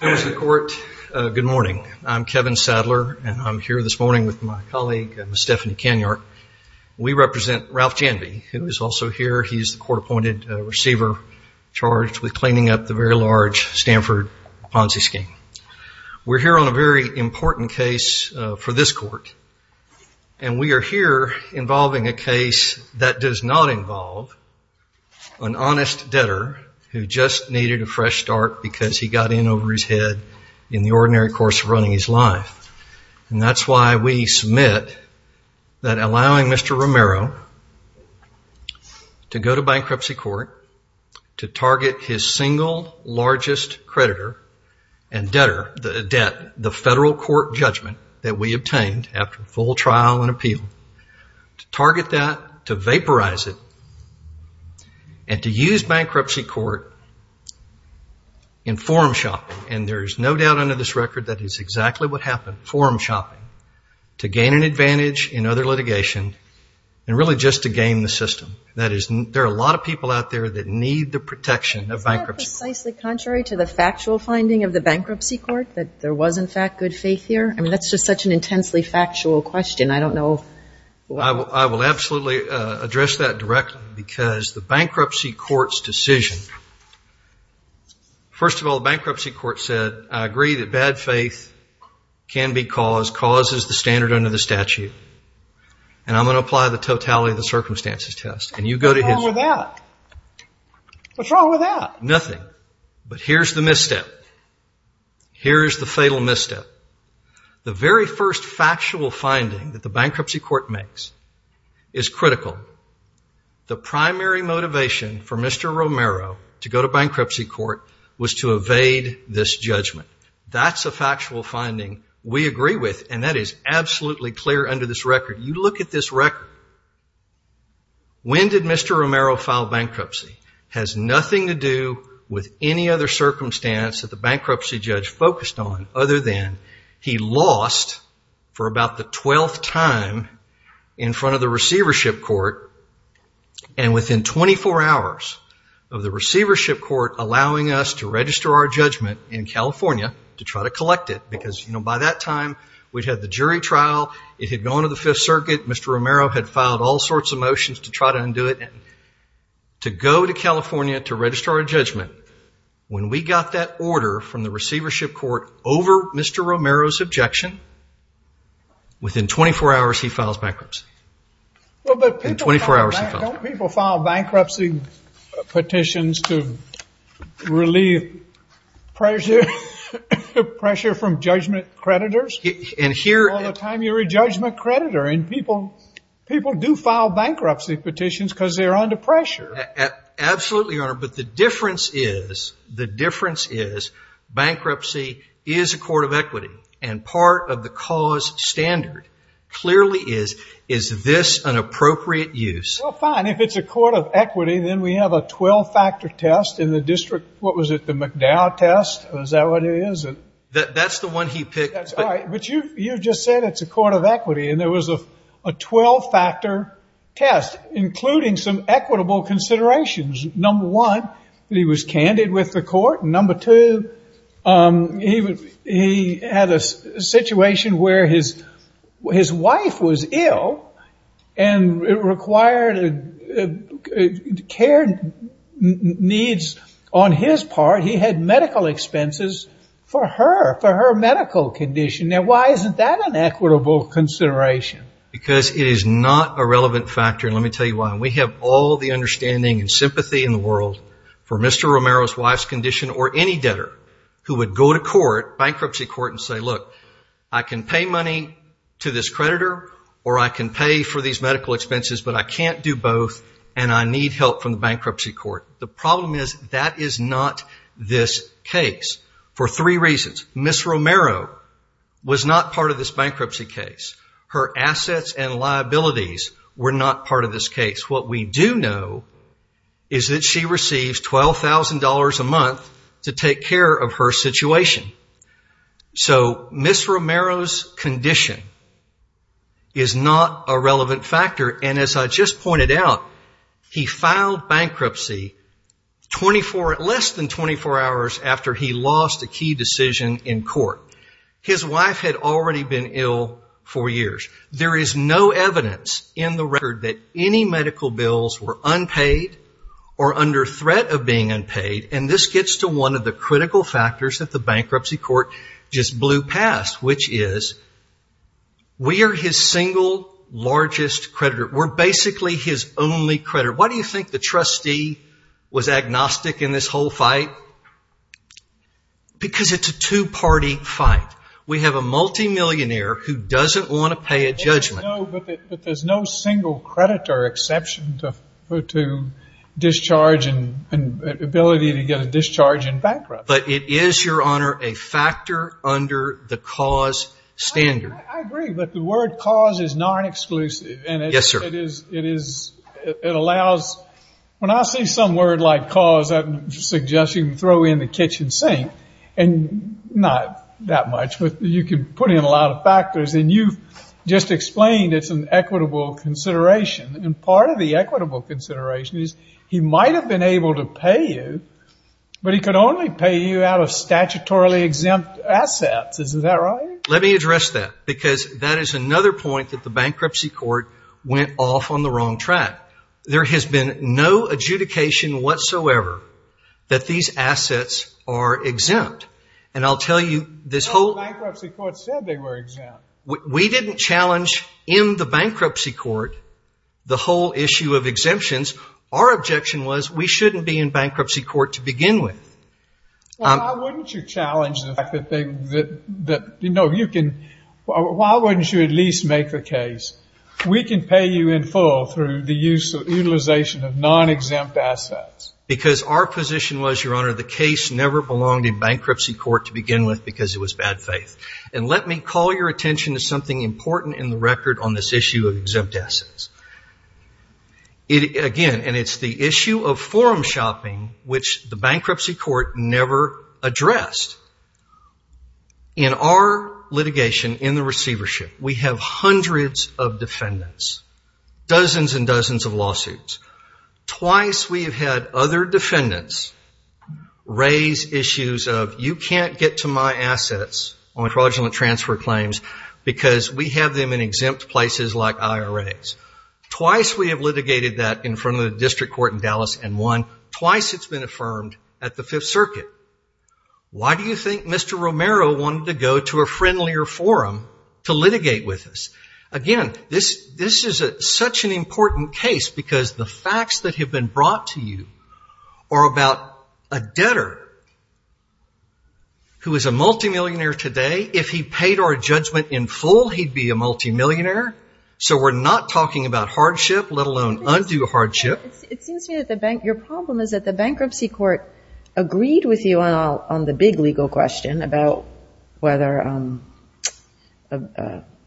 Good morning. I'm Kevin Sadler, and I'm here this morning with my colleague Stephanie Kenyart. We represent Ralph Janvey, who is also here. He's the court-appointed receiver charged with cleaning up the very large Stanford Ponzi scheme. We're here on a very important case for this court, and we are here involving a case that does not involve an honest debtor who just needed a fresh start because he got in over his head in the ordinary course of running his life. And that's why we submit that allowing Mr. Romero to go to bankruptcy court to target his single largest creditor and debtor, the federal court judgment that we obtained after full trial and appeal, to target that, to vaporize it, and to use bankruptcy court in forum shopping. And there is no doubt under this record that is exactly what happened, forum shopping, to gain an advantage in other litigation and really just to game the system. That is, there are a lot of people out there that need the protection of bankruptcy. Isn't that precisely contrary to the factual finding of the bankruptcy court, that there was in fact good faith here? I mean, that's just such an intensely factual question. I don't know. I will absolutely address that directly because it's the bankruptcy court's decision. First of all, the bankruptcy court said, I agree that bad faith can be caused, cause is the standard under the statute, and I'm going to apply the totality of the circumstances test. And you go to his... What's wrong with that? What's wrong with that? Nothing. But here's the misstep. Here's the fatal misstep. The very first factual finding that the bankruptcy court makes is critical. The primary motivation for Mr. Romero to go to bankruptcy court was to evade this judgment. That's a factual finding we agree with, and that is absolutely clear under this record. You look at this record. When did Mr. Romero file bankruptcy has nothing to do with any other circumstance that the bankruptcy judge focused on other than he lost for about the 12th time in front of the receivership court, and within 24 hours of the receivership court allowing us to register our judgment in California to try to collect it, because by that time we'd had the jury trial. It had gone to the Fifth Circuit. Mr. Romero had filed all sorts of motions to try to undo it. To go to California to register our judgment. When we got that order from the receivership court over Mr. Romero's objection, within 24 hours he files bankruptcy. Within 24 hours he files bankruptcy. Don't people file bankruptcy petitions to relieve pressure from judgment creditors? All the time you're a judgment creditor, and people do file bankruptcy petitions because they're under pressure. Absolutely, Your Honor, but the difference is bankruptcy is a court of equity, and part of the cause standard clearly is, is this an appropriate use? Well, fine. If it's a court of equity, then we have a 12-factor test in the district. What was it, the McDowell test? Is that what it is? That's the one he picked. That's right, but you just said it's a court of equity, and there was a 12-factor test, including some equitable considerations. Number one, he was candid with the court. Number two, he had a situation where his wife was ill, and it required care needs on his part. He had medical expenses for her, for her medical condition. Why isn't that an equitable consideration? Because it is not a relevant factor, and let me tell you why. We have all the understanding and sympathy in the world for Mr. Romero's wife's condition, or any debtor who would go to court, bankruptcy court, and say, look, I can pay money to this creditor, or I can pay for these medical expenses, but I can't do both, and I need help from the bankruptcy court. The problem is that is not this case, for three reasons. Ms. Romero was not part of this bankruptcy case. Her assets and liabilities were not part of this case. What we do know is that she receives $12,000 a month to take care of her situation. So Ms. Romero's condition is not a relevant factor, and as I just pointed out, he filed bankruptcy less than 24 hours after he lost a key decision in court. His wife had already been ill for years. There is no evidence in the record that any medical bills were unpaid or under threat of being unpaid, and this gets to one of the critical factors that the bankruptcy court just blew past, which is we are his single largest creditor. We're basically his only creditor. Why do you think the trustee was agnostic in this whole fight? Because it's a two-party fight. We have a multi-millionaire who doesn't want to pay a judgment. But there's no single creditor exception to discharge and ability to get a discharge in bankruptcy. But it is, Your Honor, a factor under the cause standard. I agree, but the word cause is non-exclusive, and it is, it allows, when I see some word like cause, I suggest you can throw in the kitchen sink, and not that much, but you can put in a lot of factors, and you've just explained it's an equitable consideration, and part of the equitable consideration is he might have been able to pay you, but he could only pay you out of statutorily exempt assets. Is that right? Let me address that, because that is another point that the bankruptcy court went off on the wrong track. There has been no adjudication whatsoever that these assets are exempt. And I'll tell you, this whole- No, the bankruptcy court said they were exempt. We didn't challenge in the bankruptcy court the whole issue of exemptions. Our objection was we shouldn't be in bankruptcy court to begin with. Well, why wouldn't you challenge the fact that they, that, you know, you can, why wouldn't you at least make the case, we can pay you in full through the use of, utilization of non-exempt assets? Because our position was, Your Honor, the case never belonged in bankruptcy court to begin with, because it was bad faith. And let me call your attention to something important in the record on this issue of exempt assets. It, again, and it's the issue of forum shopping, which the bankruptcy court never addressed in our litigation in the receivership. We have hundreds of defendants, dozens and dozens of lawsuits. Twice we have had other defendants raise issues of, You can't get to my assets on fraudulent transfer claims because we have them in exempt places like IRAs. Twice we have litigated that in front of the district court in Dallas and won. Twice it's been affirmed at the Fifth Circuit. Why do you think Mr. Romero wanted to go to a friendlier forum to litigate with us? Again, this is such an important case because the facts that have been brought to you are about a debtor who is a multimillionaire today. If he paid our judgment in full, he'd be a multimillionaire. So we're not talking about hardship, let alone undue hardship. It seems to me that your problem is that the bankruptcy court agreed with you on the big legal question about whether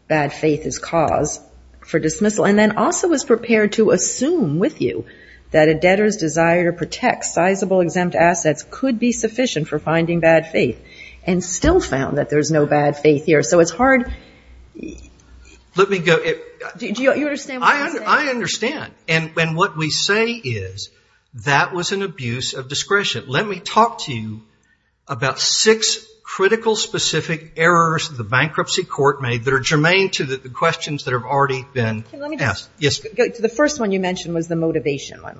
bad faith is cause for dismissal, and then also was prepared to assume with you that a debtor's desire to protect sizable exempt assets could be sufficient for finding bad faith, and still found that there's no bad faith here. So it's fair to say that was an abuse of discretion. Let me talk to you about six critical, specific errors the bankruptcy court made that are germane to the questions that have already been asked. The first one you mentioned was the motivation one.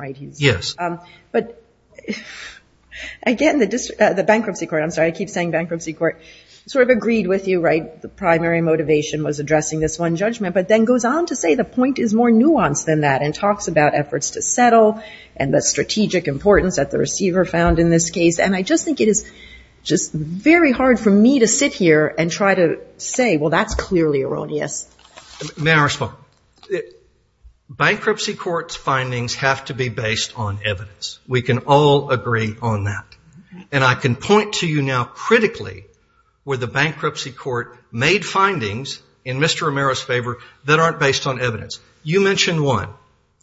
Again, the bankruptcy court sort of agreed with you, the primary motivation was addressing this one judgment, but then goes on to say the point is more nuanced than that, and talks about efforts to settle, and the strategic importance that the receiver found in this case, and I just think it is just very hard for me to sit here and try to say, well, that's clearly erroneous. May I respond? Bankruptcy court's findings have to be based on evidence. We can all agree on that. And I can point to you now critically where the bankruptcy court made findings in evidence. You mentioned one.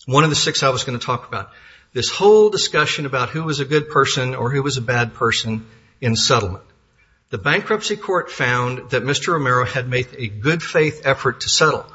One of the six I was going to talk about. This whole discussion about who was a good person or who was a bad person in settlement. The bankruptcy court found that Mr. Romero had made a good faith effort to settle.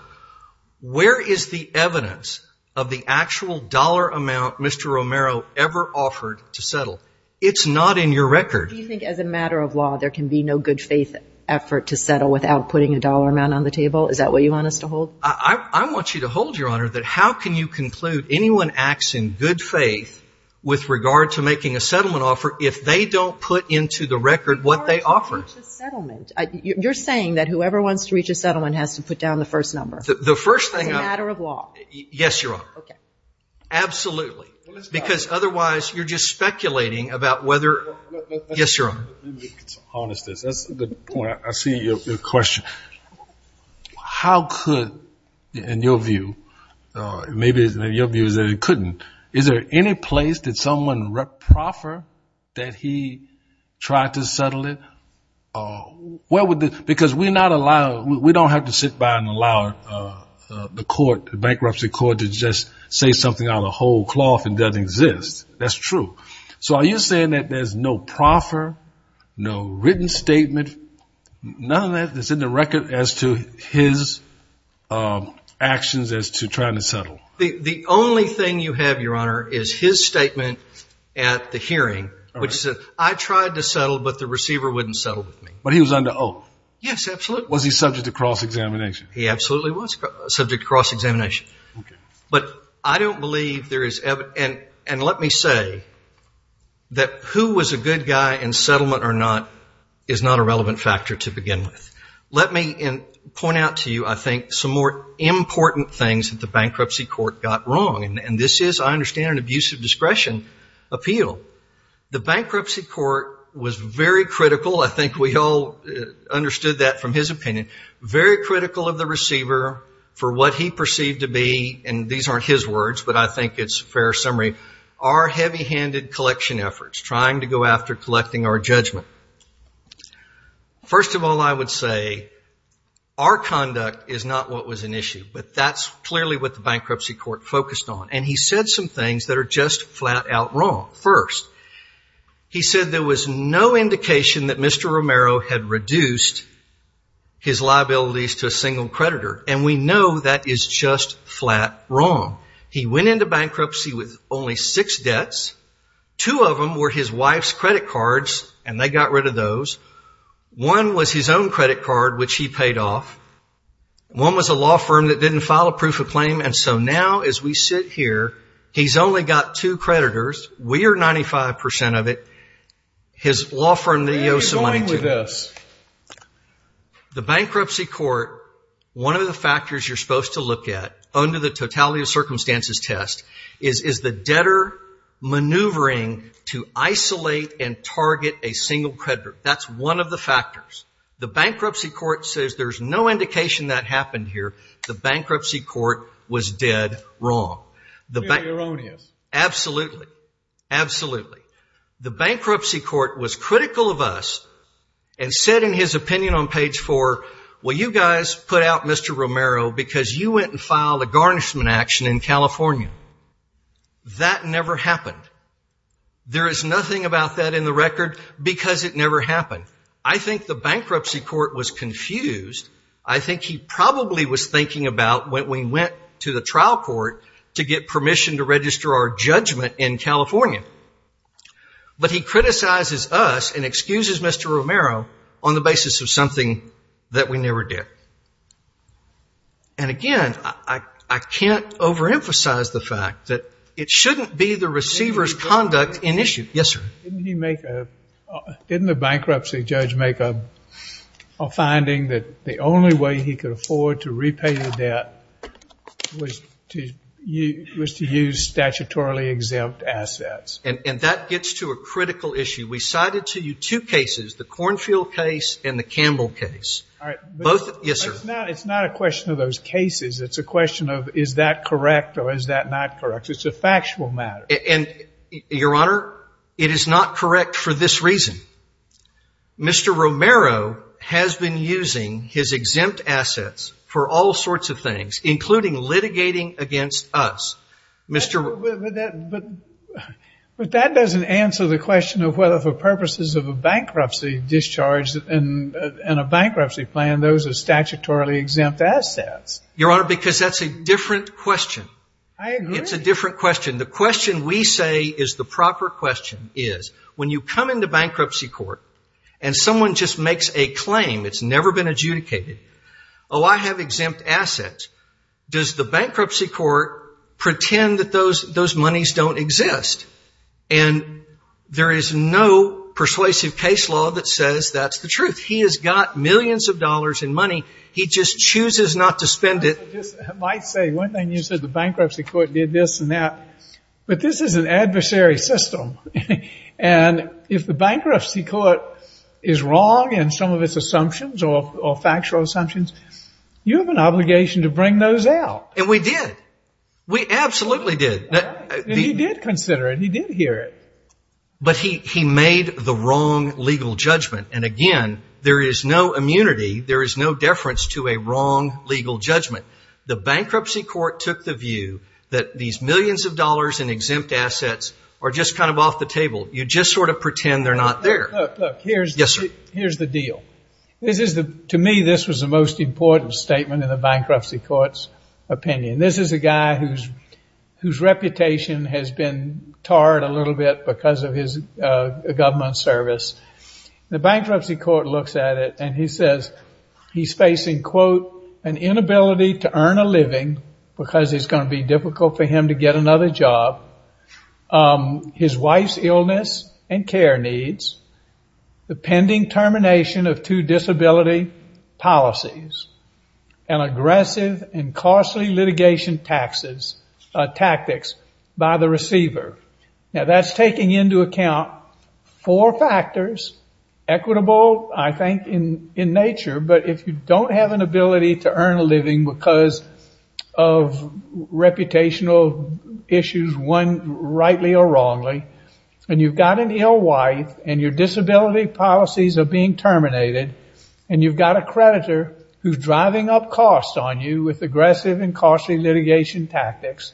Where is the evidence of the actual dollar amount Mr. Romero ever offered to settle? It's not in your record. Do you think as a matter of law there can be no good faith effort to settle without putting a dollar amount on the table? Is that what you want us to hold? I want you to hold, Your Honor, that how can you conclude anyone acts in good faith with regard to making a settlement offer if they don't put into the record what they offered? As far as who reaches settlement. You're saying that whoever wants to reach a settlement has to put down the first number. The first thing I'm As a matter of law. Yes, Your Honor. Okay. Absolutely. Let me start. Because otherwise you're just speculating about whether No, no, no. Yes, Your Honor. Let me be honest. That's a good point. I see your question. How could, in your view, maybe your view is that it couldn't. Is there any place that someone proffered that he tried to settle it? Because we don't have to sit by and allow the court, the bankruptcy court, to just say something out of whole cloth and doesn't exist. That's true. So are you saying that there's no proffer, no written statement, none of that that's in the record as to his actions as to trying to settle? The only thing you have, Your Honor, is his statement at the hearing, which says, I tried to settle, but the receiver wouldn't settle with me. But he was under oath. Yes, absolutely. Was he subject to cross-examination? He absolutely was subject to cross-examination. But I don't believe there is evidence. And let me say that who was a good guy in settlement or not is not a relevant factor to begin with. Let me point out to you, I think, some more important things that the bankruptcy court got wrong. And this is, I understand, an abusive discretion appeal. The bankruptcy court was very critical. I think we all understood that from his opinion. Very critical of the receiver for what he perceived to be, and these aren't his words, but I think it's a fair summary, our heavy-handed collection efforts, trying to go after collecting our judgment. First of all, I would say, our conduct is not what was an issue. But that's clearly what the bankruptcy court focused on. And he said some things that are just flat-out wrong. First, he said there was no indication that Mr. Romero had reduced his liabilities to a single creditor. And we know that is just flat wrong. He went into bankruptcy with only six debts. Two of them were his wife's credit cards, and they got rid of those. One was his own credit card, which he paid off. One was a law firm that didn't file a proof of claim. And so now, as we sit here, he's only got two creditors. We are 95 percent of it. His law firm that he owes some money to. The bankruptcy court, one of the factors you're supposed to look at under the totality of circumstances test, is the debtor maneuvering to isolate and target a single creditor. That's one of the factors. The bankruptcy court says there's no indication that happened here. The bankruptcy court was dead wrong. Very erroneous. Absolutely. Absolutely. The bankruptcy court was critical of us and said in his opinion on page four, well, you guys put out Mr. Romero because you went and filed a garnishment action in California. That never happened. There is nothing about that in the record because it never happened. I think the bankruptcy court was confused. I think he probably was thinking about when we went to the trial court to get permission to register our judgment in California. But he criticizes us and excuses Mr. Romero on the basis of something that we never did. And again, I can't overemphasize the fact that it shouldn't be the receiver's conduct in issue. Yes, sir? Didn't he make a, didn't the bankruptcy judge make a finding that the only way he could afford to repay the debt was to use statutorily exempt assets? And that gets to a critical issue. We cited to you two cases, the Cornfield case and the Campbell case. Both, yes, sir? It's not a question of those cases. It's a question of is that correct or is that not correct? It's a factual matter. And Your Honor, it is not correct for this reason. Mr. Romero has been using his exempt assets for all sorts of things, including litigating against us. But that doesn't answer the question of whether for purposes of a bankruptcy discharge and a bankruptcy plan, those are statutorily exempt assets. Your Honor, because that's a different question. I agree. It's a different question. The question we say is the proper question is, when you come into bankruptcy court and someone just makes a claim, it's never been adjudicated, oh, I have exempt assets, does the bankruptcy court pretend that those monies don't exist? And there is no persuasive case law that says that's the truth. He has got millions of dollars in money. He just chooses not to spend it. I might say one thing. You said the bankruptcy court did this and that. But this is an adversary system. And if the bankruptcy court is wrong in some of its assumptions or factual assumptions, you have an obligation to bring those out. And we did. We absolutely did. And he did consider it. He did hear it. But he made the wrong legal judgment. And again, there is no immunity, there is no deference to a wrong legal judgment. The bankruptcy court took the view that these millions of dollars in exempt assets are just kind of off the table. You just sort of pretend they're not there. Look, here's the deal. To me, this was the most important statement in the bankruptcy court's opinion. This is a guy whose reputation has been tarred a little bit because of his government service. The bankruptcy court looks at it and he says he's facing, quote, an inability to earn a living because it's going to be difficult for him to get another job, his wife's illness and care needs, the pending termination of two disability policies, and aggressive and costly litigation tactics by the receiver. Now, that's taking into account four factors, equitable, I think, in nature, but if you don't have an ability to earn a living because of reputational issues, one, rightly or wrongly, and you've got an ill wife and your disability policies are being terminated, and you've got a creditor who's driving up costs on you with aggressive and costly litigation tactics,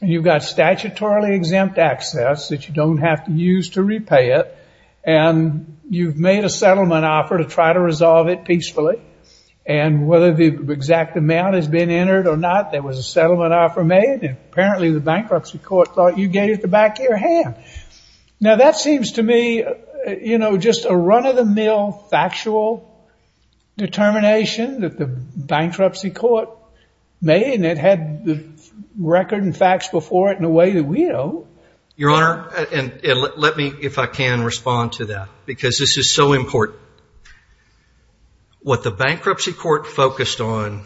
you've got statutorily exempt access that you don't have to use to repay it, and you've made a settlement offer to try to resolve it peacefully, and whether the exact amount has been entered or not, there was a settlement offer made, and apparently the bankruptcy court thought you gave it the back of your hand. Now that seems to me, you know, just a run-of-the-mill factual determination that the bankruptcy court made, and it had the record and facts before it in a way that we don't. Your Honor, and let me, if I can, respond to that, because this is so important. What the bankruptcy court focused on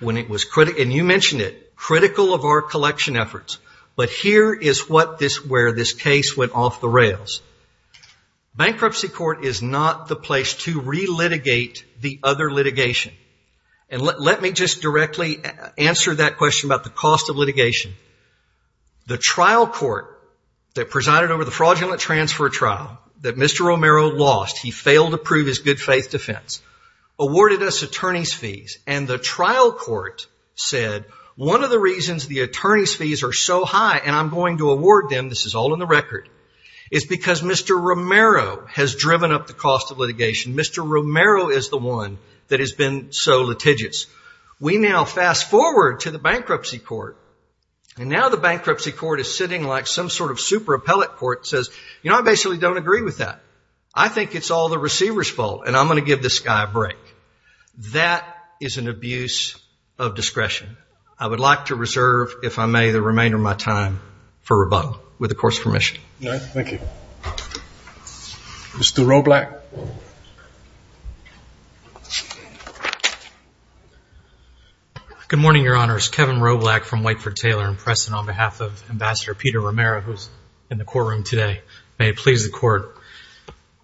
when it was critical, and you mentioned it, critical of our collection efforts, but here is where this case went off the rails. Bankruptcy court is not the place to relitigate the other litigation, and let me just directly answer that question about the cost of litigation. The trial court that presided over the fraudulent transfer trial that Mr. Romero lost, he failed to prove his good faith defense, awarded us attorney's fees, and the trial court said, one of the reasons the attorney's fees are so high and I'm going to award them, this is because Mr. Romero has driven up the cost of litigation. Mr. Romero is the one that has been so litigious. We now fast forward to the bankruptcy court, and now the bankruptcy court is sitting like some sort of super appellate court that says, you know, I basically don't agree with that. I think it's all the receiver's fault, and I'm going to give this guy a break. That is an abuse of discretion. I would like to reserve, if I may, the remainder of my time for rebuttal. With the court's permission. All right, thank you. Mr. Roblack. Good morning, Your Honors. Kevin Roblack from Whiteford Taylor & Pressen on behalf of Ambassador Peter Romero, who's in the courtroom today. May it please the court.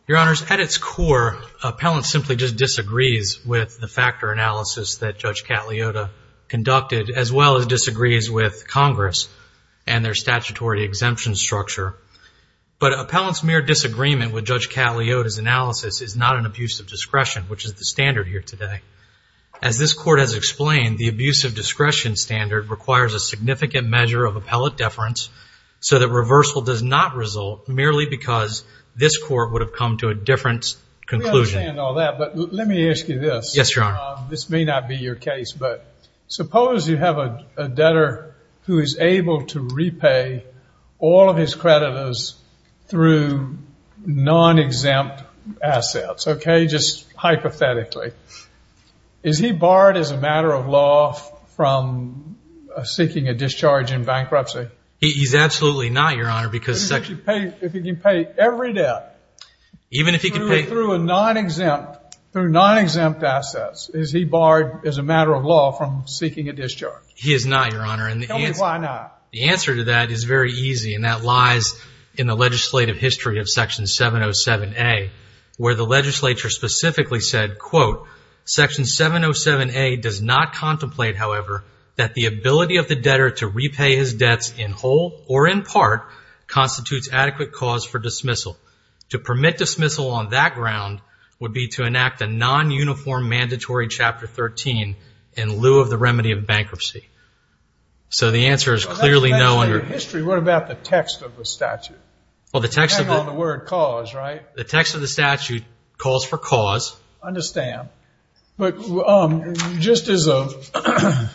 Your Honors, at its core, appellant simply just disagrees with the factor analysis that Judge Cagliotta conducted, as well as disagrees with Congress and their statutory exemption structure. But appellant's mere disagreement with Judge Cagliotta's analysis is not an abuse of discretion, which is the standard here today. As this court has explained, the abuse of discretion standard requires a significant measure of appellate deference, so that reversal does not result merely because this court would have come to a different conclusion. Let me understand all that, but let me ask you this. Yes, Your Honor. This may not be your case, but suppose you have a debtor who is able to repay all of his creditors through non-exempt assets, okay, just hypothetically. Is he barred as a matter of law from seeking a discharge in bankruptcy? He's absolutely not, Your Honor, because it's actually... If he can pay every debt... Even if he can pay... Even if he can pay through non-exempt assets, is he barred as a matter of law from seeking a discharge? He is not, Your Honor. Tell me why not. The answer to that is very easy, and that lies in the legislative history of Section 707A, where the legislature specifically said, quote, Section 707A does not contemplate, however, that the ability of the debtor to repay his debts in whole or in part constitutes adequate cause for dismissal. To permit dismissal on that ground would be to enact a non-uniform mandatory Chapter 13 in lieu of the remedy of bankruptcy. So the answer is clearly no... That's the history. What about the text of the statute? Well, the text of the... Hang on to the word cause, right? The text of the statute calls for cause. Understand. But just as a...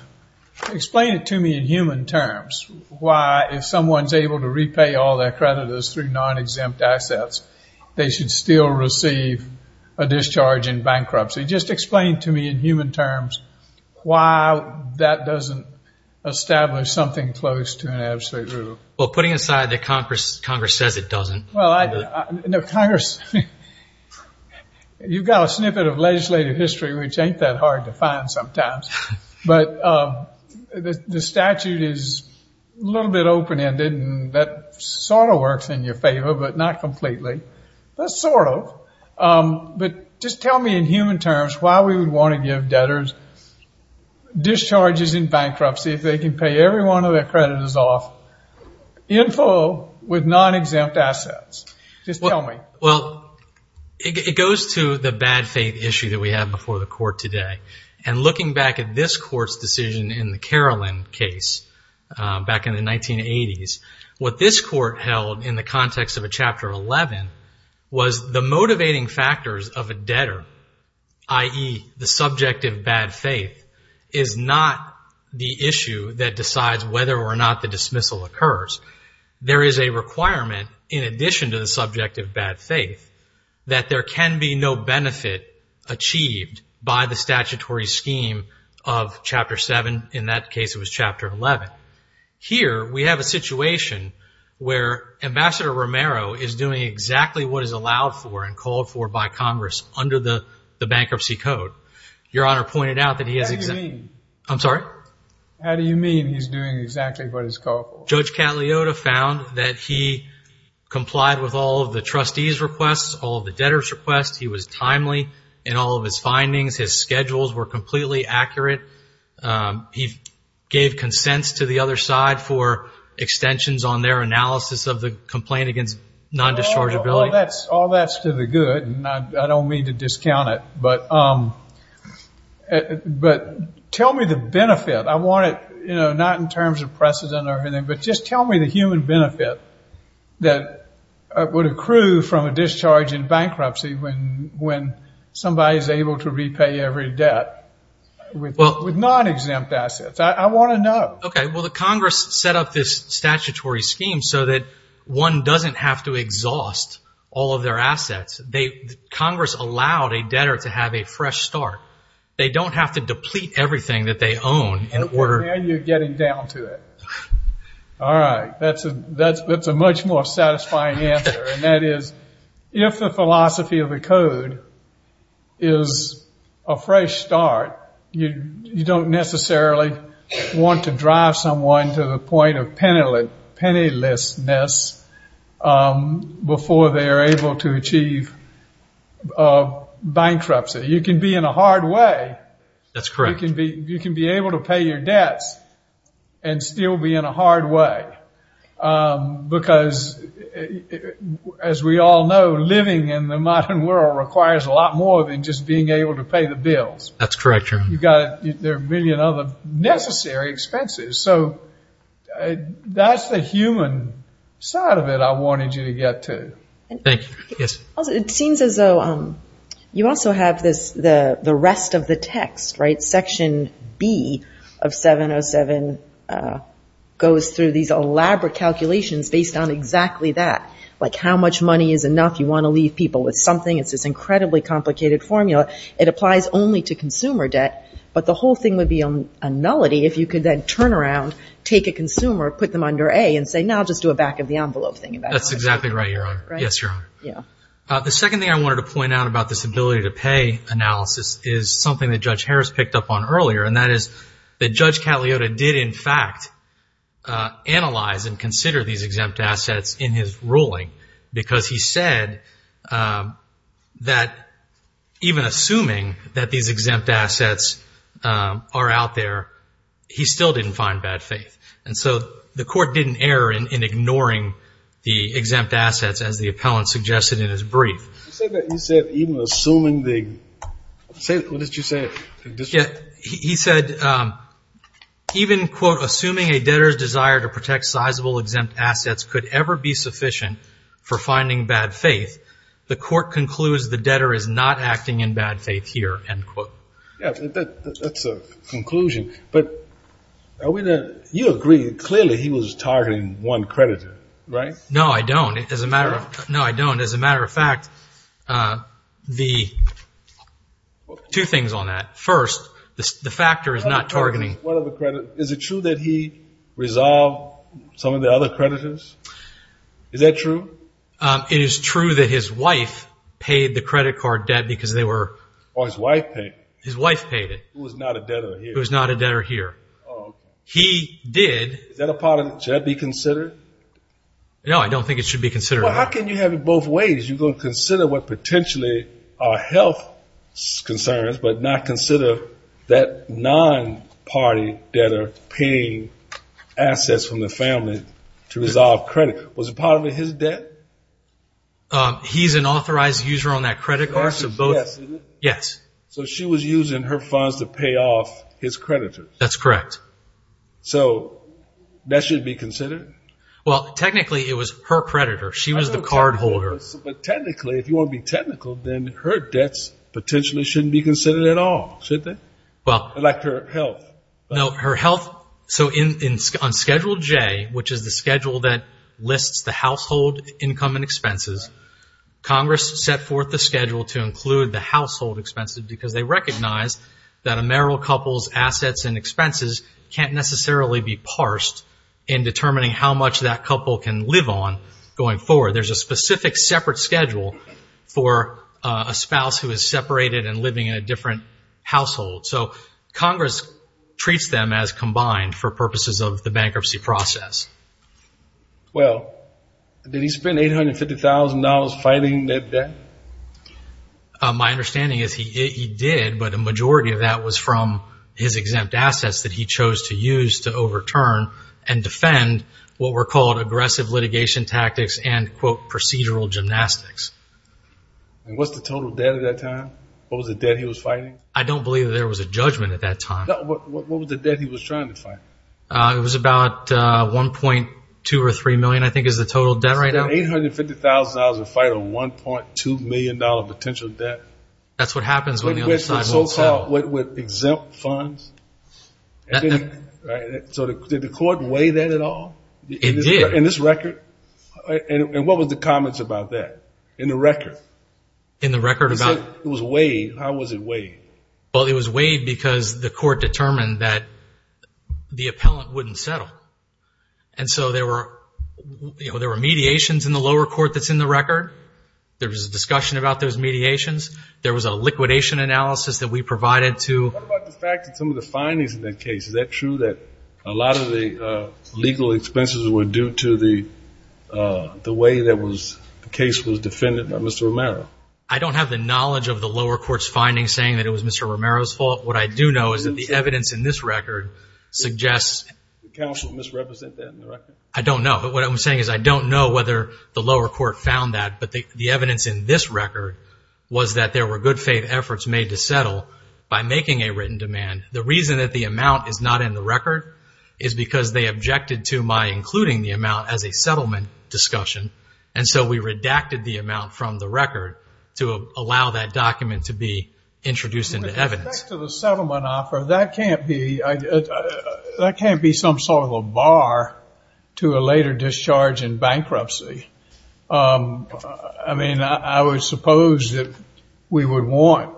Explain it to me in human terms, why if someone's able to repay all their creditors through non-exempt assets, they should still receive a discharge in bankruptcy. Just explain to me in human terms why that doesn't establish something close to an absolute rule. Well, putting aside that Congress says it doesn't... Well, I... No, Congress... You've got a snippet of legislative history, which ain't that hard to find sometimes. But the statute is a little bit open-ended and that sort of works in your favor, but not completely. Well, sort of, but just tell me in human terms why we would want to give debtors discharges in bankruptcy if they can pay every one of their creditors off in full with non-exempt assets. Just tell me. Well, it goes to the bad faith issue that we have before the court today. And looking back at this court's decision in the Carolyn case back in the 1980s, what this court held in the context of a Chapter 11 was the motivating factors of a debtor, i.e., the subject of bad faith, is not the issue that decides whether or not the dismissal occurs. There is a requirement in addition to the subject of bad faith that there can be no of Chapter 7. In that case, it was Chapter 11. Here we have a situation where Ambassador Romero is doing exactly what is allowed for and called for by Congress under the Bankruptcy Code. Your Honor pointed out that he has... How do you mean? I'm sorry? How do you mean he's doing exactly what is called for? Judge Catliota found that he complied with all of the trustees' requests, all of the debtors' requests. He was timely in all of his findings. His schedules were completely accurate. He gave consents to the other side for extensions on their analysis of the complaint against non-dischargeability. All that's to the good, and I don't mean to discount it, but tell me the benefit. I want it not in terms of precedent or anything, but just tell me the human benefit that would a discharge in bankruptcy when somebody is able to repay every debt with non-exempt assets. I want to know. Okay. Well, the Congress set up this statutory scheme so that one doesn't have to exhaust all of their assets. They... Congress allowed a debtor to have a fresh start. They don't have to deplete everything that they own in order... Okay. Now you're getting down to it. All right. That's a much more satisfying answer, and that is, if the philosophy of the code is a fresh start, you don't necessarily want to drive someone to the point of pennilessness before they are able to achieve bankruptcy. You can be in a hard way. That's correct. You can be able to pay your debts and still be in a hard way because, as we all know, living in the modern world requires a lot more than just being able to pay the bills. That's correct. You've got... There are a million other necessary expenses, so that's the human side of it I wanted you to get to. Thank you. Yes? It seems as though you also have the rest of the text, right? Section B of 707 goes through these elaborate calculations based on exactly that, like how much money is enough you want to leave people with something. It's this incredibly complicated formula. It applies only to consumer debt, but the whole thing would be a nullity if you could then turn around, take a consumer, put them under A, and say, no, I'll just do a back of the envelope thing. That's exactly right, Your Honor. Right? Yes, Your Honor. Yeah. The second thing I wanted to point out about this ability to pay analysis is something that Judge Harris picked up on earlier, and that is that Judge Cagliotta did in fact analyze and consider these exempt assets in his ruling because he said that even assuming that these exempt assets are out there, he still didn't find bad faith. And so the court didn't err in ignoring the exempt assets, as the appellant suggested in his brief. He said that even assuming the, what did you say? He said, even, quote, assuming a debtor's desire to protect sizable exempt assets could ever be sufficient for finding bad faith, the court concludes the debtor is not acting in bad faith here, end quote. That's a conclusion. But you agree, clearly he was targeting one creditor, right? No, I don't. As a matter of fact, the two things on that. First, the factor is not targeting one of the creditors. Is it true that he resolved some of the other creditors? Is that true? It is true that his wife paid the credit card debt because they were- Oh, his wife paid? His wife paid it. Who was not a debtor here? Who was not a debtor here. Oh, okay. He did- Is that a part of it? Should that be considered? No, I don't think it should be considered. Well, how can you have it both ways? You're going to consider what potentially are health concerns, but not consider that non-party debtor paying assets from the family to resolve credit. Was it part of his debt? He's an authorized user on that credit card, so both- Yes, is it? Yes. So she was using her funds to pay off his creditors? That's correct. So that should be considered? Well, technically it was her creditor. She was the cardholder. I know technically, but technically, if you want to be technical, then her debts potentially shouldn't be considered at all, should they? Well- Like her health. No, her health. So on Schedule J, which is the schedule that lists the household income and expenses, Congress first set forth the schedule to include the household expenses because they recognize that a marital couple's assets and expenses can't necessarily be parsed in determining how much that couple can live on going forward. There's a specific separate schedule for a spouse who is separated and living in a different household. So Congress treats them as combined for purposes of the bankruptcy process. Well, did he spend $850,000 fighting that debt? My understanding is he did, but a majority of that was from his exempt assets that he chose to use to overturn and defend what were called aggressive litigation tactics and quote, procedural gymnastics. And what's the total debt at that time? What was the debt he was fighting? I don't believe that there was a judgment at that time. What was the debt he was trying to fight? It was about $1.2 or $3 million, I think, is the total debt right now. $850,000 to fight a $1.2 million potential debt? That's what happens when the other side won't settle. With so-called exempt funds? So did the court weigh that at all? It did. In this record? And what was the comments about that in the record? In the record about? It was weighed. How was it weighed? Well, it was weighed because the court determined that the appellant wouldn't settle. And so there were mediations in the lower court that's in the record. There was a discussion about those mediations. There was a liquidation analysis that we provided to... What about the fact that some of the findings in that case, is that true that a lot of the legal expenses were due to the way that the case was defended by Mr. Romero? I don't have the knowledge of the lower court's findings saying that it was Mr. Romero's fault. What I do know is that the evidence in this record suggests... Did the counsel misrepresent that in the record? I don't know. What I'm saying is I don't know whether the lower court found that. But the evidence in this record was that there were good faith efforts made to settle by making a written demand. The reason that the amount is not in the record is because they objected to my including the amount as a settlement discussion. And so we redacted the amount from the record to allow that document to be introduced into evidence. With respect to the settlement offer, that can't be some sort of a bar to a later discharge in bankruptcy. I mean, I would suppose that we would want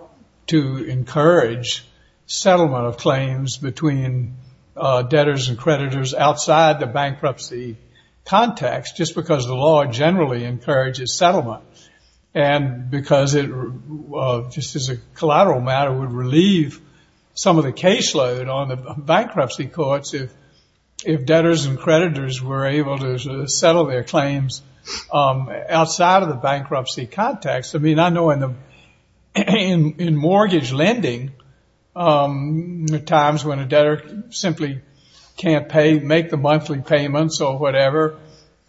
to encourage settlement of claims between debtors and creditors outside the bankruptcy context just because the law generally encourages settlement. And because it just as a collateral matter would relieve some of the caseload on the bankruptcy courts if debtors and creditors were able to settle their claims outside of the bankruptcy context. I mean, I know in mortgage lending, there are times when a debtor simply can't make the monthly payments or whatever,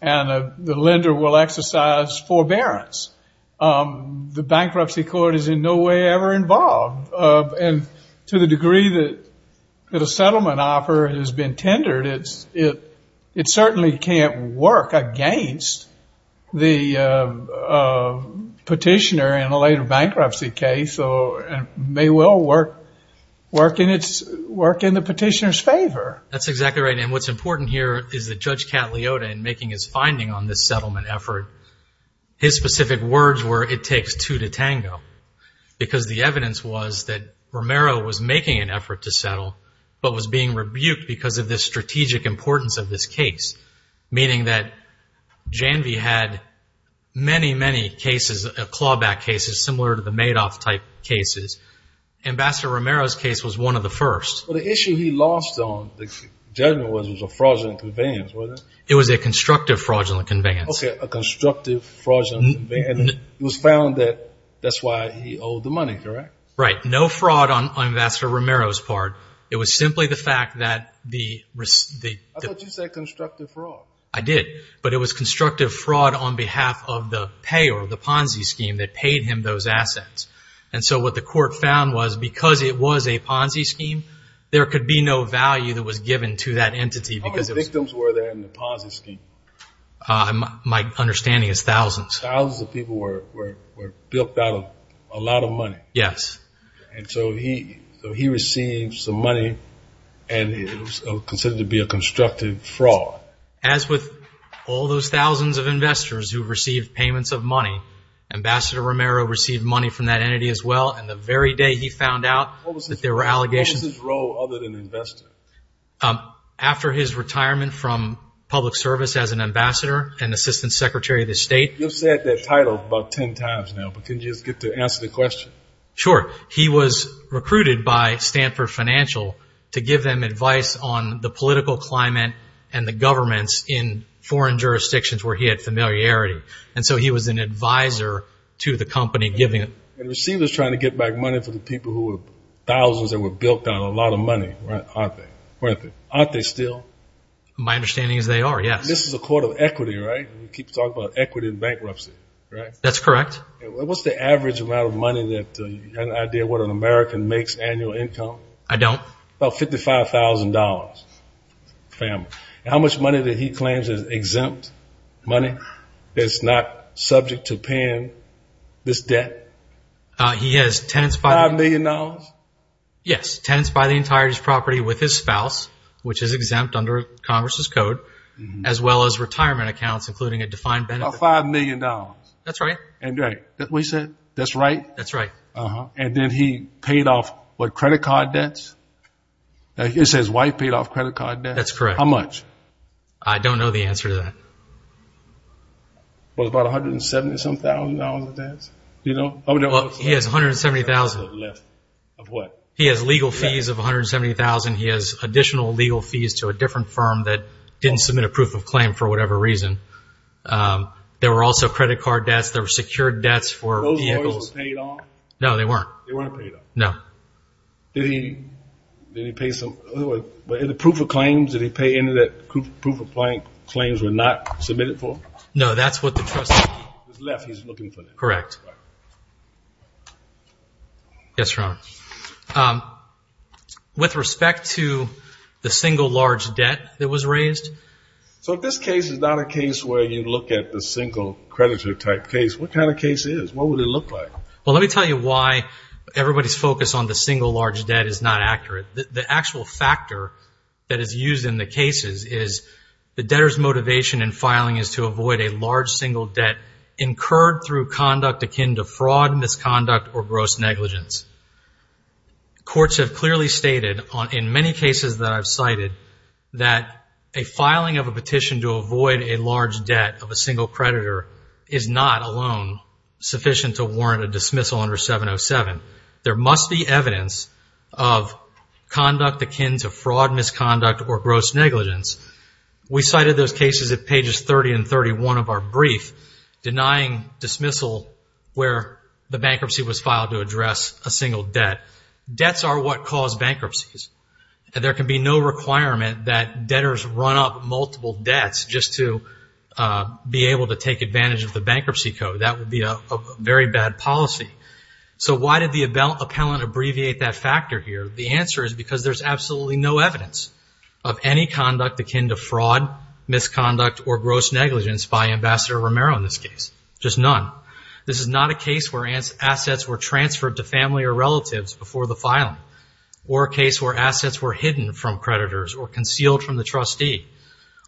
and the lender will exercise forbearance. The bankruptcy court is in no way ever involved. And to the degree that a settlement offer has been tendered, it certainly can't work against the petitioner in a later bankruptcy case and may well work in the petitioner's favor. That's exactly right. And what's important here is that Judge Cataliota in making his finding on this settlement effort, his specific words were it takes two to tango because the evidence was that Romero was making an effort to settle but was being rebuked because of the strategic importance of this case, meaning that Janvey had many, many cases, clawback cases similar to the Madoff-type cases. Ambassador Romero's case was one of the first. Well, the issue he lost on, the judgment was it was a fraudulent conveyance, wasn't it? It was a constructive fraudulent conveyance. Okay, a constructive fraudulent conveyance. And it was found that that's why he owed the money, correct? Right. No fraud on Ambassador Romero's part. It was simply the fact that the- I thought you said constructive fraud. I did. But it was constructive fraud on behalf of the pay or the Ponzi scheme that paid him those assets. And so what the court found was because it was a Ponzi scheme, there could be no value that was given to that entity because it was- How many victims were there in the Ponzi scheme? My understanding is thousands. Thousands of people were bilked out of a lot of money. Yes. And so he received some money, and it was considered to be a constructive fraud. As with all those thousands of investors who received payments of money, Ambassador Romero received money from that entity as well. And the very day he found out that there were allegations- What was his role other than investor? After his retirement from public service as an ambassador and assistant secretary of the state- You've said that title about 10 times now, but can you just get to answer the question? Sure. He was recruited by Stanford Financial to give them advice on the political climate and the governments in foreign jurisdictions where he had familiarity. And so he was an advisor to the company giving- And it seemed he was trying to get back money for the people who were- Aren't they still? My understanding is they are, yes. This is a court of equity, right? We keep talking about equity in bankruptcy, right? That's correct. What's the average amount of money that- Do you have any idea what an American makes annual income? I don't. About $55,000. How much money did he claim is exempt money that's not subject to paying this debt? He has tenants- $5 million? Yes. Tenants buy the entirety of his property with his spouse, which is exempt under Congress' code, as well as retirement accounts, including a defined benefit. $5 million. That's right. And then he paid off what, credit card debts? It says wife paid off credit card debts. That's correct. How much? I don't know the answer to that. Well, about $170,000 of debts? He has $170,000. Of what? He has legal fees of $170,000. He has additional legal fees to a different firm that didn't submit a proof of claim for whatever reason. There were also credit card debts. There were secured debts for vehicles. Those lawyers were paid off? No, they weren't. They weren't paid off? No. Did he pay some- In the proof of claims, did he pay any of that proof of claims were not submitted for? No, that's what the trustee- Correct. Yes, Your Honor. With respect to the single large debt that was raised- So if this case is not a case where you look at the single creditor type case, what kind of case is? What would it look like? Well, let me tell you why everybody's focus on the single large debt is not accurate. The actual factor that is used in the cases is the debtor's motivation in filing is to avoid a large single debt incurred through conduct akin to fraud, misconduct, or gross negligence. Courts have clearly stated in many cases that I've cited that a filing of a petition to avoid a large debt of a single creditor is not alone sufficient to warrant a dismissal under 707. There must be evidence of conduct akin to fraud, misconduct, or gross negligence. We cited those cases at pages 30 and 31 of our brief denying dismissal where the bankruptcy was filed to address a single debt. Debts are what cause bankruptcies, and there can be no requirement that debtors run up multiple debts just to be able to take advantage of the bankruptcy code. That would be a very bad policy. So why did the appellant abbreviate that factor here? The answer is because there's absolutely no evidence of any conduct akin to fraud, misconduct, or gross negligence by Ambassador Romero in this case. Just none. This is not a case where assets were transferred to family or relatives before the filing, or a case where assets were hidden from creditors or concealed from the trustee,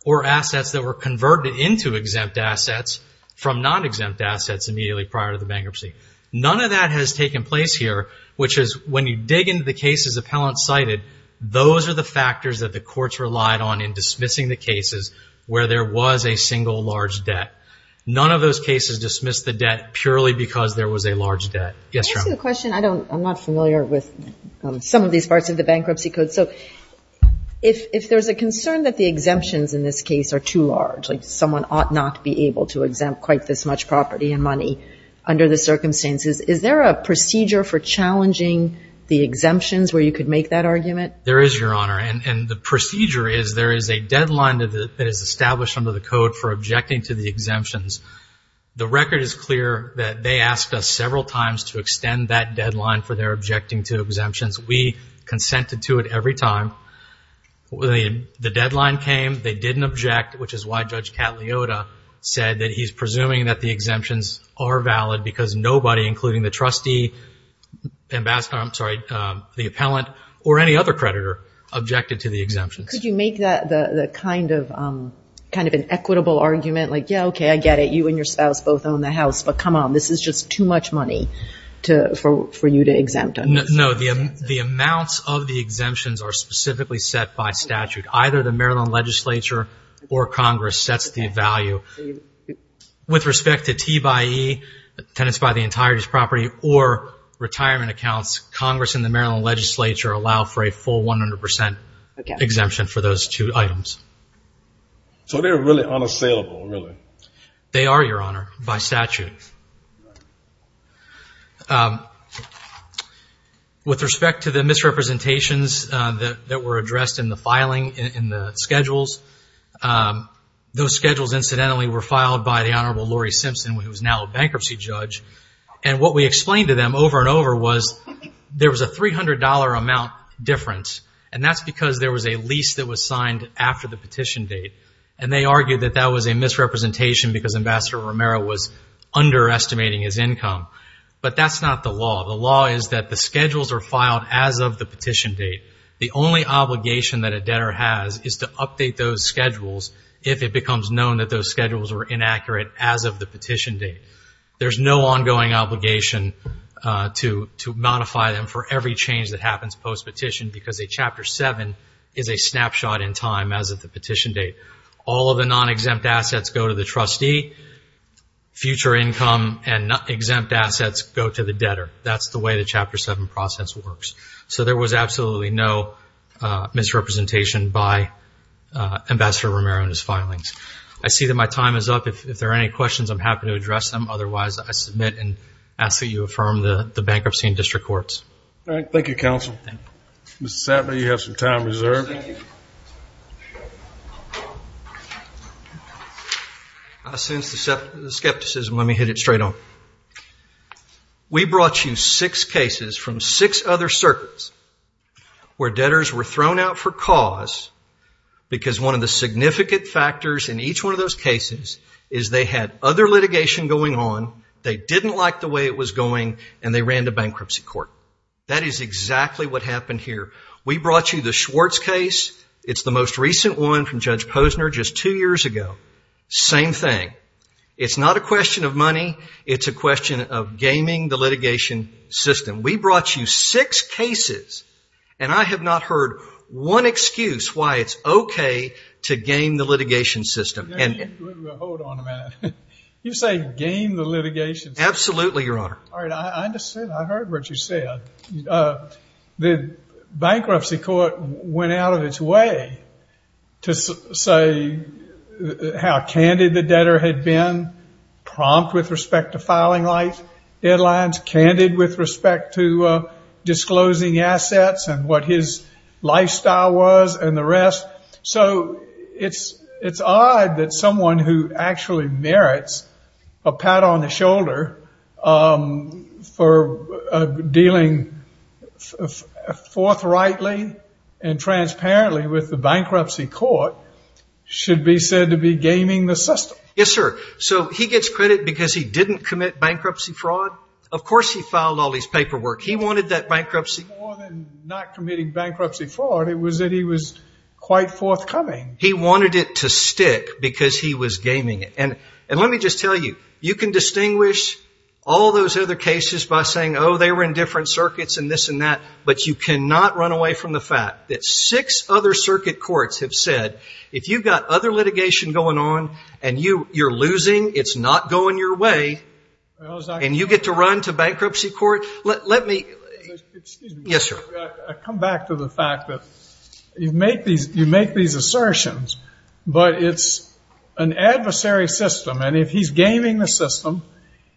or assets that were converted into exempt assets from non-exempt assets immediately prior to the bankruptcy. None of that has taken place here, which is when you dig into the cases appellants cited, those are the factors that the courts relied on in dismissing the cases where there was a single large debt. None of those cases dismissed the debt purely because there was a large debt. Yes, Your Honor? Can I ask you a question? I'm not familiar with some of these parts of the bankruptcy code. So if there's a concern that the exemptions in this case are too large, someone ought not be able to exempt quite this much property and money under the circumstances, is there a procedure for challenging the exemptions where you could make that argument? There is, Your Honor. And the procedure is there is a deadline that is established under the code for objecting to the exemptions. The record is clear that they asked us several times to extend that deadline for their objecting to exemptions. We consented to it every time. The deadline came, they didn't object, which is why Judge Cataliota said that he's presuming that the exemptions are valid because nobody, including the trustee, the appellant, or any other creditor, objected to the exemptions. Could you make that kind of an equitable argument, like, yeah, okay, I get it, you and your spouse both own the house, but come on, this is just too much money for you to exempt? No, the amounts of the exemptions are specifically set by statute. Either the Maryland Legislature or Congress sets the value. With respect to T by E, tenants buy the entirety of this property, or retirement accounts, Congress and the Maryland Legislature allow for a full 100 percent exemption for those two items. So they're really unassailable, really? They are, Your Honor, by statute. With respect to the misrepresentations that were addressed in the filing, in the schedules, those schedules incidentally were filed by the Honorable Lori Simpson, who is now a bankruptcy judge, and what we explained to them over and over was there was a $300 amount difference, and that's because there was a lease that was signed after the petition date, and they argued that that was a misrepresentation because Ambassador Romero was underestimating his income. But that's not the law. The law is that the schedules are filed as of the petition date. The only obligation that a debtor has is to update those schedules if it becomes known that those schedules were inaccurate as of the petition date. There's no ongoing obligation to modify them for every change that happens post-petition because a Chapter 7 is a snapshot in time as of the petition date. All of the non-exempt assets go to the trustee. Future income and exempt assets go to the debtor. That's the way the Chapter 7 process works. So there was absolutely no misrepresentation by Ambassador Romero in his filings. I see that my time is up. If there are any questions, I'm happy to address them. Otherwise, I submit and ask that you affirm the bankruptcy in district courts. Thank you, Counsel. Mr. Satma, you have some time reserved. Since the skepticism, let me hit it straight on. We brought you six cases from six other circuits where debtors were thrown out for cause because one of the significant factors in each one of those cases is they had other litigation going on, they didn't like the way it was going, and they ran to bankruptcy court. That is exactly what happened here. We brought you the Schwartz case. It's the most recent one from Judge Posner just two years ago. Same thing. It's not a question of money. It's a question of gaming the litigation system. We brought you six cases, and I have not heard one excuse why it's okay to game the litigation system. Hold on a minute. You say game the litigation system? Absolutely, Your Honor. All right, I understand. I heard what you said. The bankruptcy court went out of its way to say how candid the debtor had been, prompt with respect to filing life deadlines, candid with respect to disclosing assets and what his lifestyle was and the rest. So it's odd that someone who actually merits a pat on the shoulder for dealing forthrightly and transparently with the bankruptcy court should be said to be gaming the system. Yes, sir. So he gets credit because he didn't commit bankruptcy fraud? Of course he filed all his paperwork. He wanted that bankruptcy. More than not committing bankruptcy fraud, it was that he was quite forthcoming. He wanted it to stick because he was gaming it. And let me just tell you, you can distinguish all those other cases by saying, oh, they were in different circuits and this and that, but you cannot run away from the fact that six other circuit courts have said, if you've got other litigation going on and you're losing, it's not going your way, and you get to run to bankruptcy court? Excuse me. Yes, sir. I come back to the fact that you make these assertions, but it's an adversary system, and if he's gaming the system,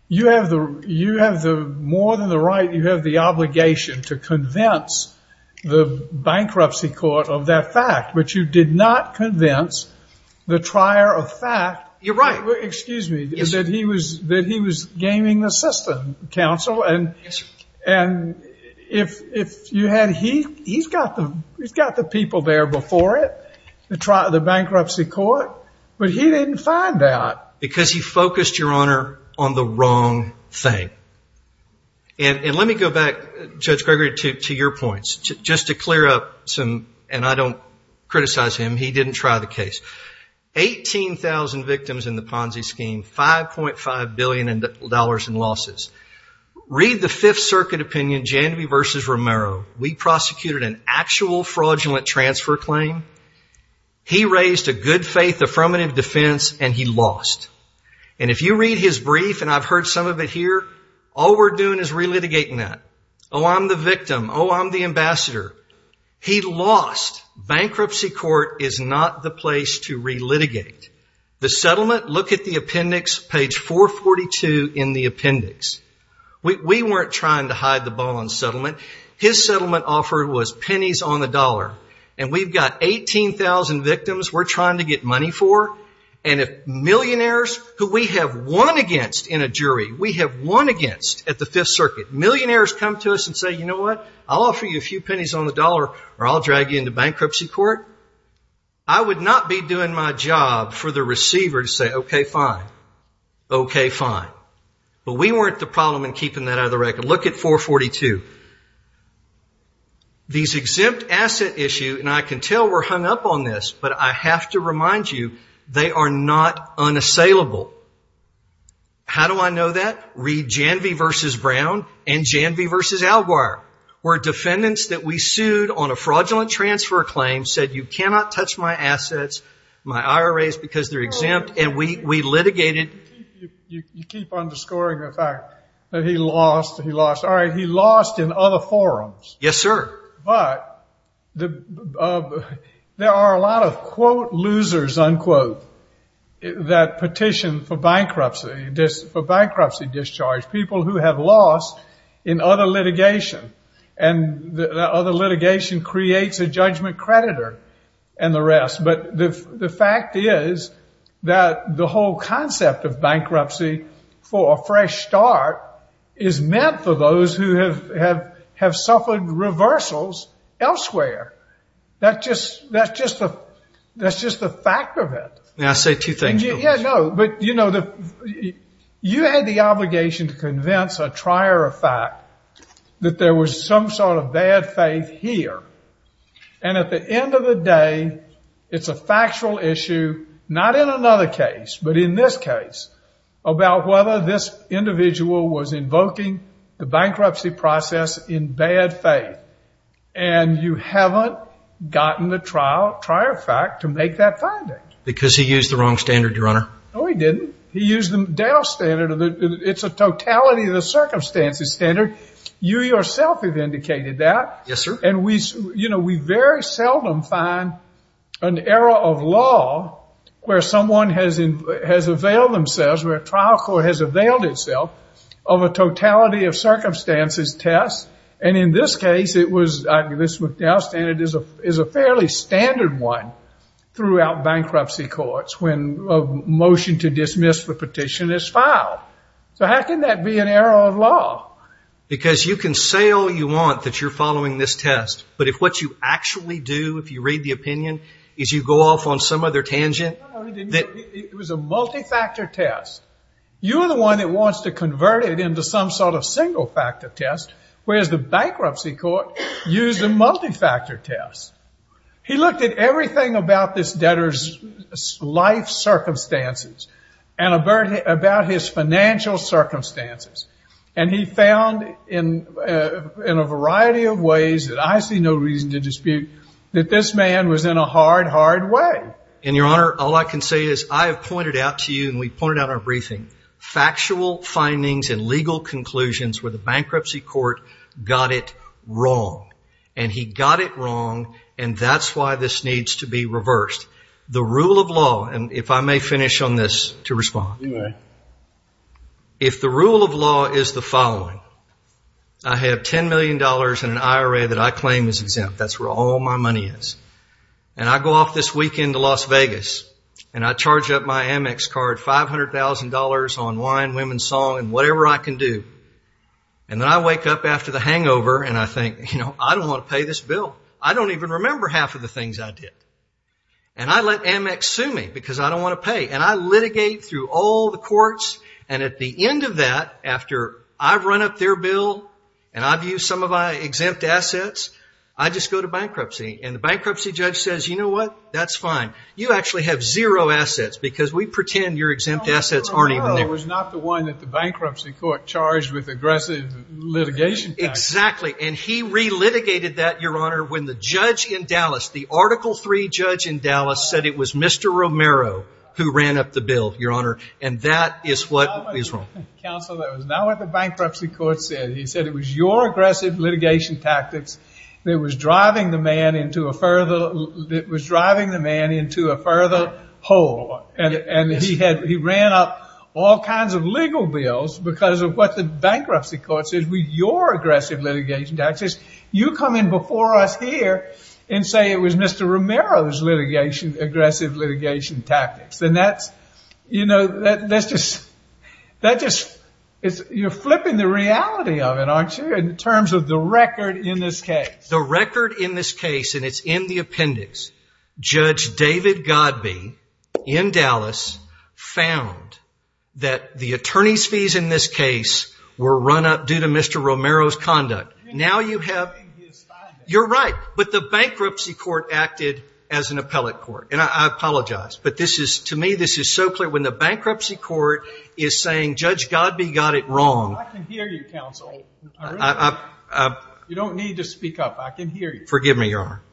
you have more than the right, you have the obligation to convince the bankruptcy court of that fact, which you did not convince the trier of fact. You're right. Excuse me, that he was gaming the system, counsel. Yes, sir. And if you had, he's got the people there before it, the bankruptcy court, but he didn't find out. Because he focused, Your Honor, on the wrong thing. And let me go back, Judge Gregory, to your points, just to clear up some, and I don't criticize him, he didn't try the case. 18,000 victims in the Ponzi scheme, $5.5 billion in losses. Read the Fifth Circuit opinion, Jandby v. Romero. We prosecuted an actual fraudulent transfer claim. He raised a good-faith affirmative defense, and he lost. And if you read his brief, and I've heard some of it here, all we're doing is relitigating that. Oh, I'm the victim. Oh, I'm the ambassador. He lost. Bankruptcy court is not the place to relitigate. The settlement, look at the appendix, page 442 in the appendix. We weren't trying to hide the ball on settlement. His settlement offer was pennies on the dollar. And we've got 18,000 victims we're trying to get money for. And if millionaires, who we have won against in a jury, we have won against at the Fifth Circuit, millionaires come to us and say, You know what? I'll offer you a few pennies on the dollar, or I'll drag you into bankruptcy court. I would not be doing my job for the receiver to say, Okay, fine. Okay, fine. But we weren't the problem in keeping that out of the record. Look at 442. These exempt asset issues, and I can tell we're hung up on this, but I have to remind you, they are not unassailable. How do I know that? Read Janvey v. Brown and Janvey v. Alguire, where defendants that we sued on a fraudulent transfer claim said, You cannot touch my assets, my IRAs, because they're exempt, and we litigated. You keep underscoring the fact that he lost. All right, he lost in other forums. Yes, sir. But there are a lot of, quote, losers, unquote, that petitioned for bankruptcy discharge, people who have lost in other litigation, and that other litigation creates a judgment creditor and the rest. But the fact is that the whole concept of bankruptcy for a fresh start is meant for those who have suffered reversals elsewhere. That's just the fact of it. May I say two things, Bill? Yeah, no, but, you know, you had the obligation to convince a trier of fact that there was some sort of bad faith here. And at the end of the day, it's a factual issue, not in another case, but in this case, about whether this individual was invoking the bankruptcy process in bad faith. And you haven't gotten the trier of fact to make that finding. Because he used the wrong standard, Your Honor. No, he didn't. He used the DAL standard. It's a totality of the circumstances standard. You yourself have indicated that. Yes, sir. And, you know, we very seldom find an era of law where someone has availed themselves, where a trial court has availed itself, of a totality of circumstances test. And in this case, it was this DAL standard is a fairly standard one throughout bankruptcy courts when a motion to dismiss the petition is filed. So how can that be an era of law? Because you can say all you want that you're following this test, but if what you actually do, if you read the opinion, is you go off on some other tangent. No, no, he didn't. It was a multi-factor test. You're the one that wants to convert it into some sort of single-factor test, whereas the bankruptcy court used a multi-factor test. He looked at everything about this debtor's life circumstances and about his financial circumstances, and he found in a variety of ways that I see no reason to dispute that this man was in a hard, hard way. And, Your Honor, all I can say is I have pointed out to you, and we pointed out in our briefing, factual findings and legal conclusions where the bankruptcy court got it wrong. And he got it wrong, and that's why this needs to be reversed. The rule of law, and if I may finish on this to respond. You may. If the rule of law is the following, I have $10 million in an IRA that I claim is exempt. That's where all my money is. And I go off this weekend to Las Vegas, and I charge up my Amex card $500,000 on wine, women's song, and whatever I can do. And then I wake up after the hangover, and I think, you know, I don't want to pay this bill. I don't even remember half of the things I did. And I let Amex sue me because I don't want to pay. And I litigate through all the courts, and at the end of that, after I've run up their bill, and I've used some of my exempt assets, I just go to bankruptcy. And the bankruptcy judge says, you know what, that's fine. You actually have zero assets because we pretend your exempt assets aren't even there. It was not the one that the bankruptcy court charged with aggressive litigation. Exactly. And he re-litigated that, Your Honor, when the judge in Dallas, the Article III judge in Dallas said it was Mr. Romero who ran up the bill, Your Honor. And that is what is wrong. Counsel, that was not what the bankruptcy court said. He said it was your aggressive litigation tactics that was driving the man into a further, that was driving the man into a further hole. And he ran up all kinds of legal bills because of what the bankruptcy court said, your aggressive litigation tactics. You come in before us here and say it was Mr. Romero's aggressive litigation tactics. And that's, you know, that's just, you're flipping the reality of it, aren't you, in terms of the record in this case. The record in this case, and it's in the appendix, Judge David Godbee in Dallas found that the attorney's fees in this case were run up due to Mr. Romero's conduct. Now you have, you're right. But the bankruptcy court acted as an appellate court. And I apologize. But this is, to me, this is so clear. When the bankruptcy court is saying Judge Godbee got it wrong. I can hear you, Counsel. You don't need to speak up. I can hear you. Forgive me, Your Honor.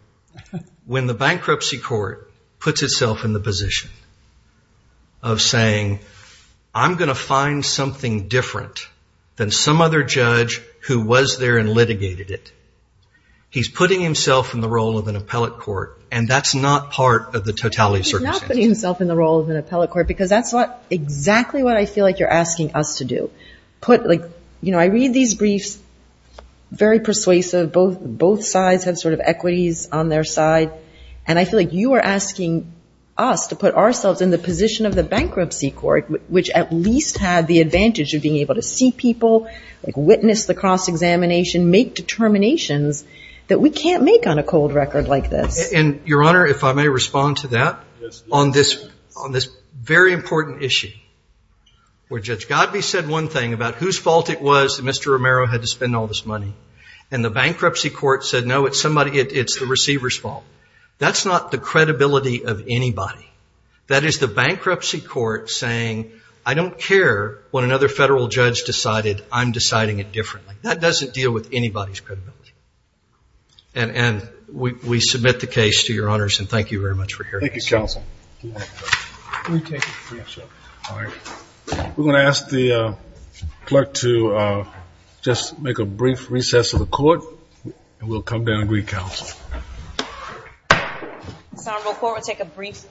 When the bankruptcy court puts itself in the position of saying, I'm going to find something different than some other judge who was there and litigated it, he's putting himself in the role of an appellate court, and that's not part of the totality of circumstances. He's not putting himself in the role of an appellate court because that's not exactly what I feel like you're asking us to do. I read these briefs, very persuasive. Both sides have sort of equities on their side. And I feel like you are asking us to put ourselves in the position of the bankruptcy court, which at least had the advantage of being able to see people, witness the cross-examination, make determinations that we can't make on a cold record like this. And, Your Honor, if I may respond to that. Yes. On this very important issue where Judge Godbee said one thing about whose fault it was that Mr. Romero had to spend all this money, and the bankruptcy court said, no, it's the receiver's fault, that's not the credibility of anybody. That is the bankruptcy court saying, I don't care what another federal judge decided. I'm deciding it differently. That doesn't deal with anybody's credibility. And we submit the case to Your Honors, and thank you very much for hearing us. Thank you, counsel. We're going to ask the clerk to just make a brief recess of the court, and we'll come down and read counsel. This honorable court will take a brief recess.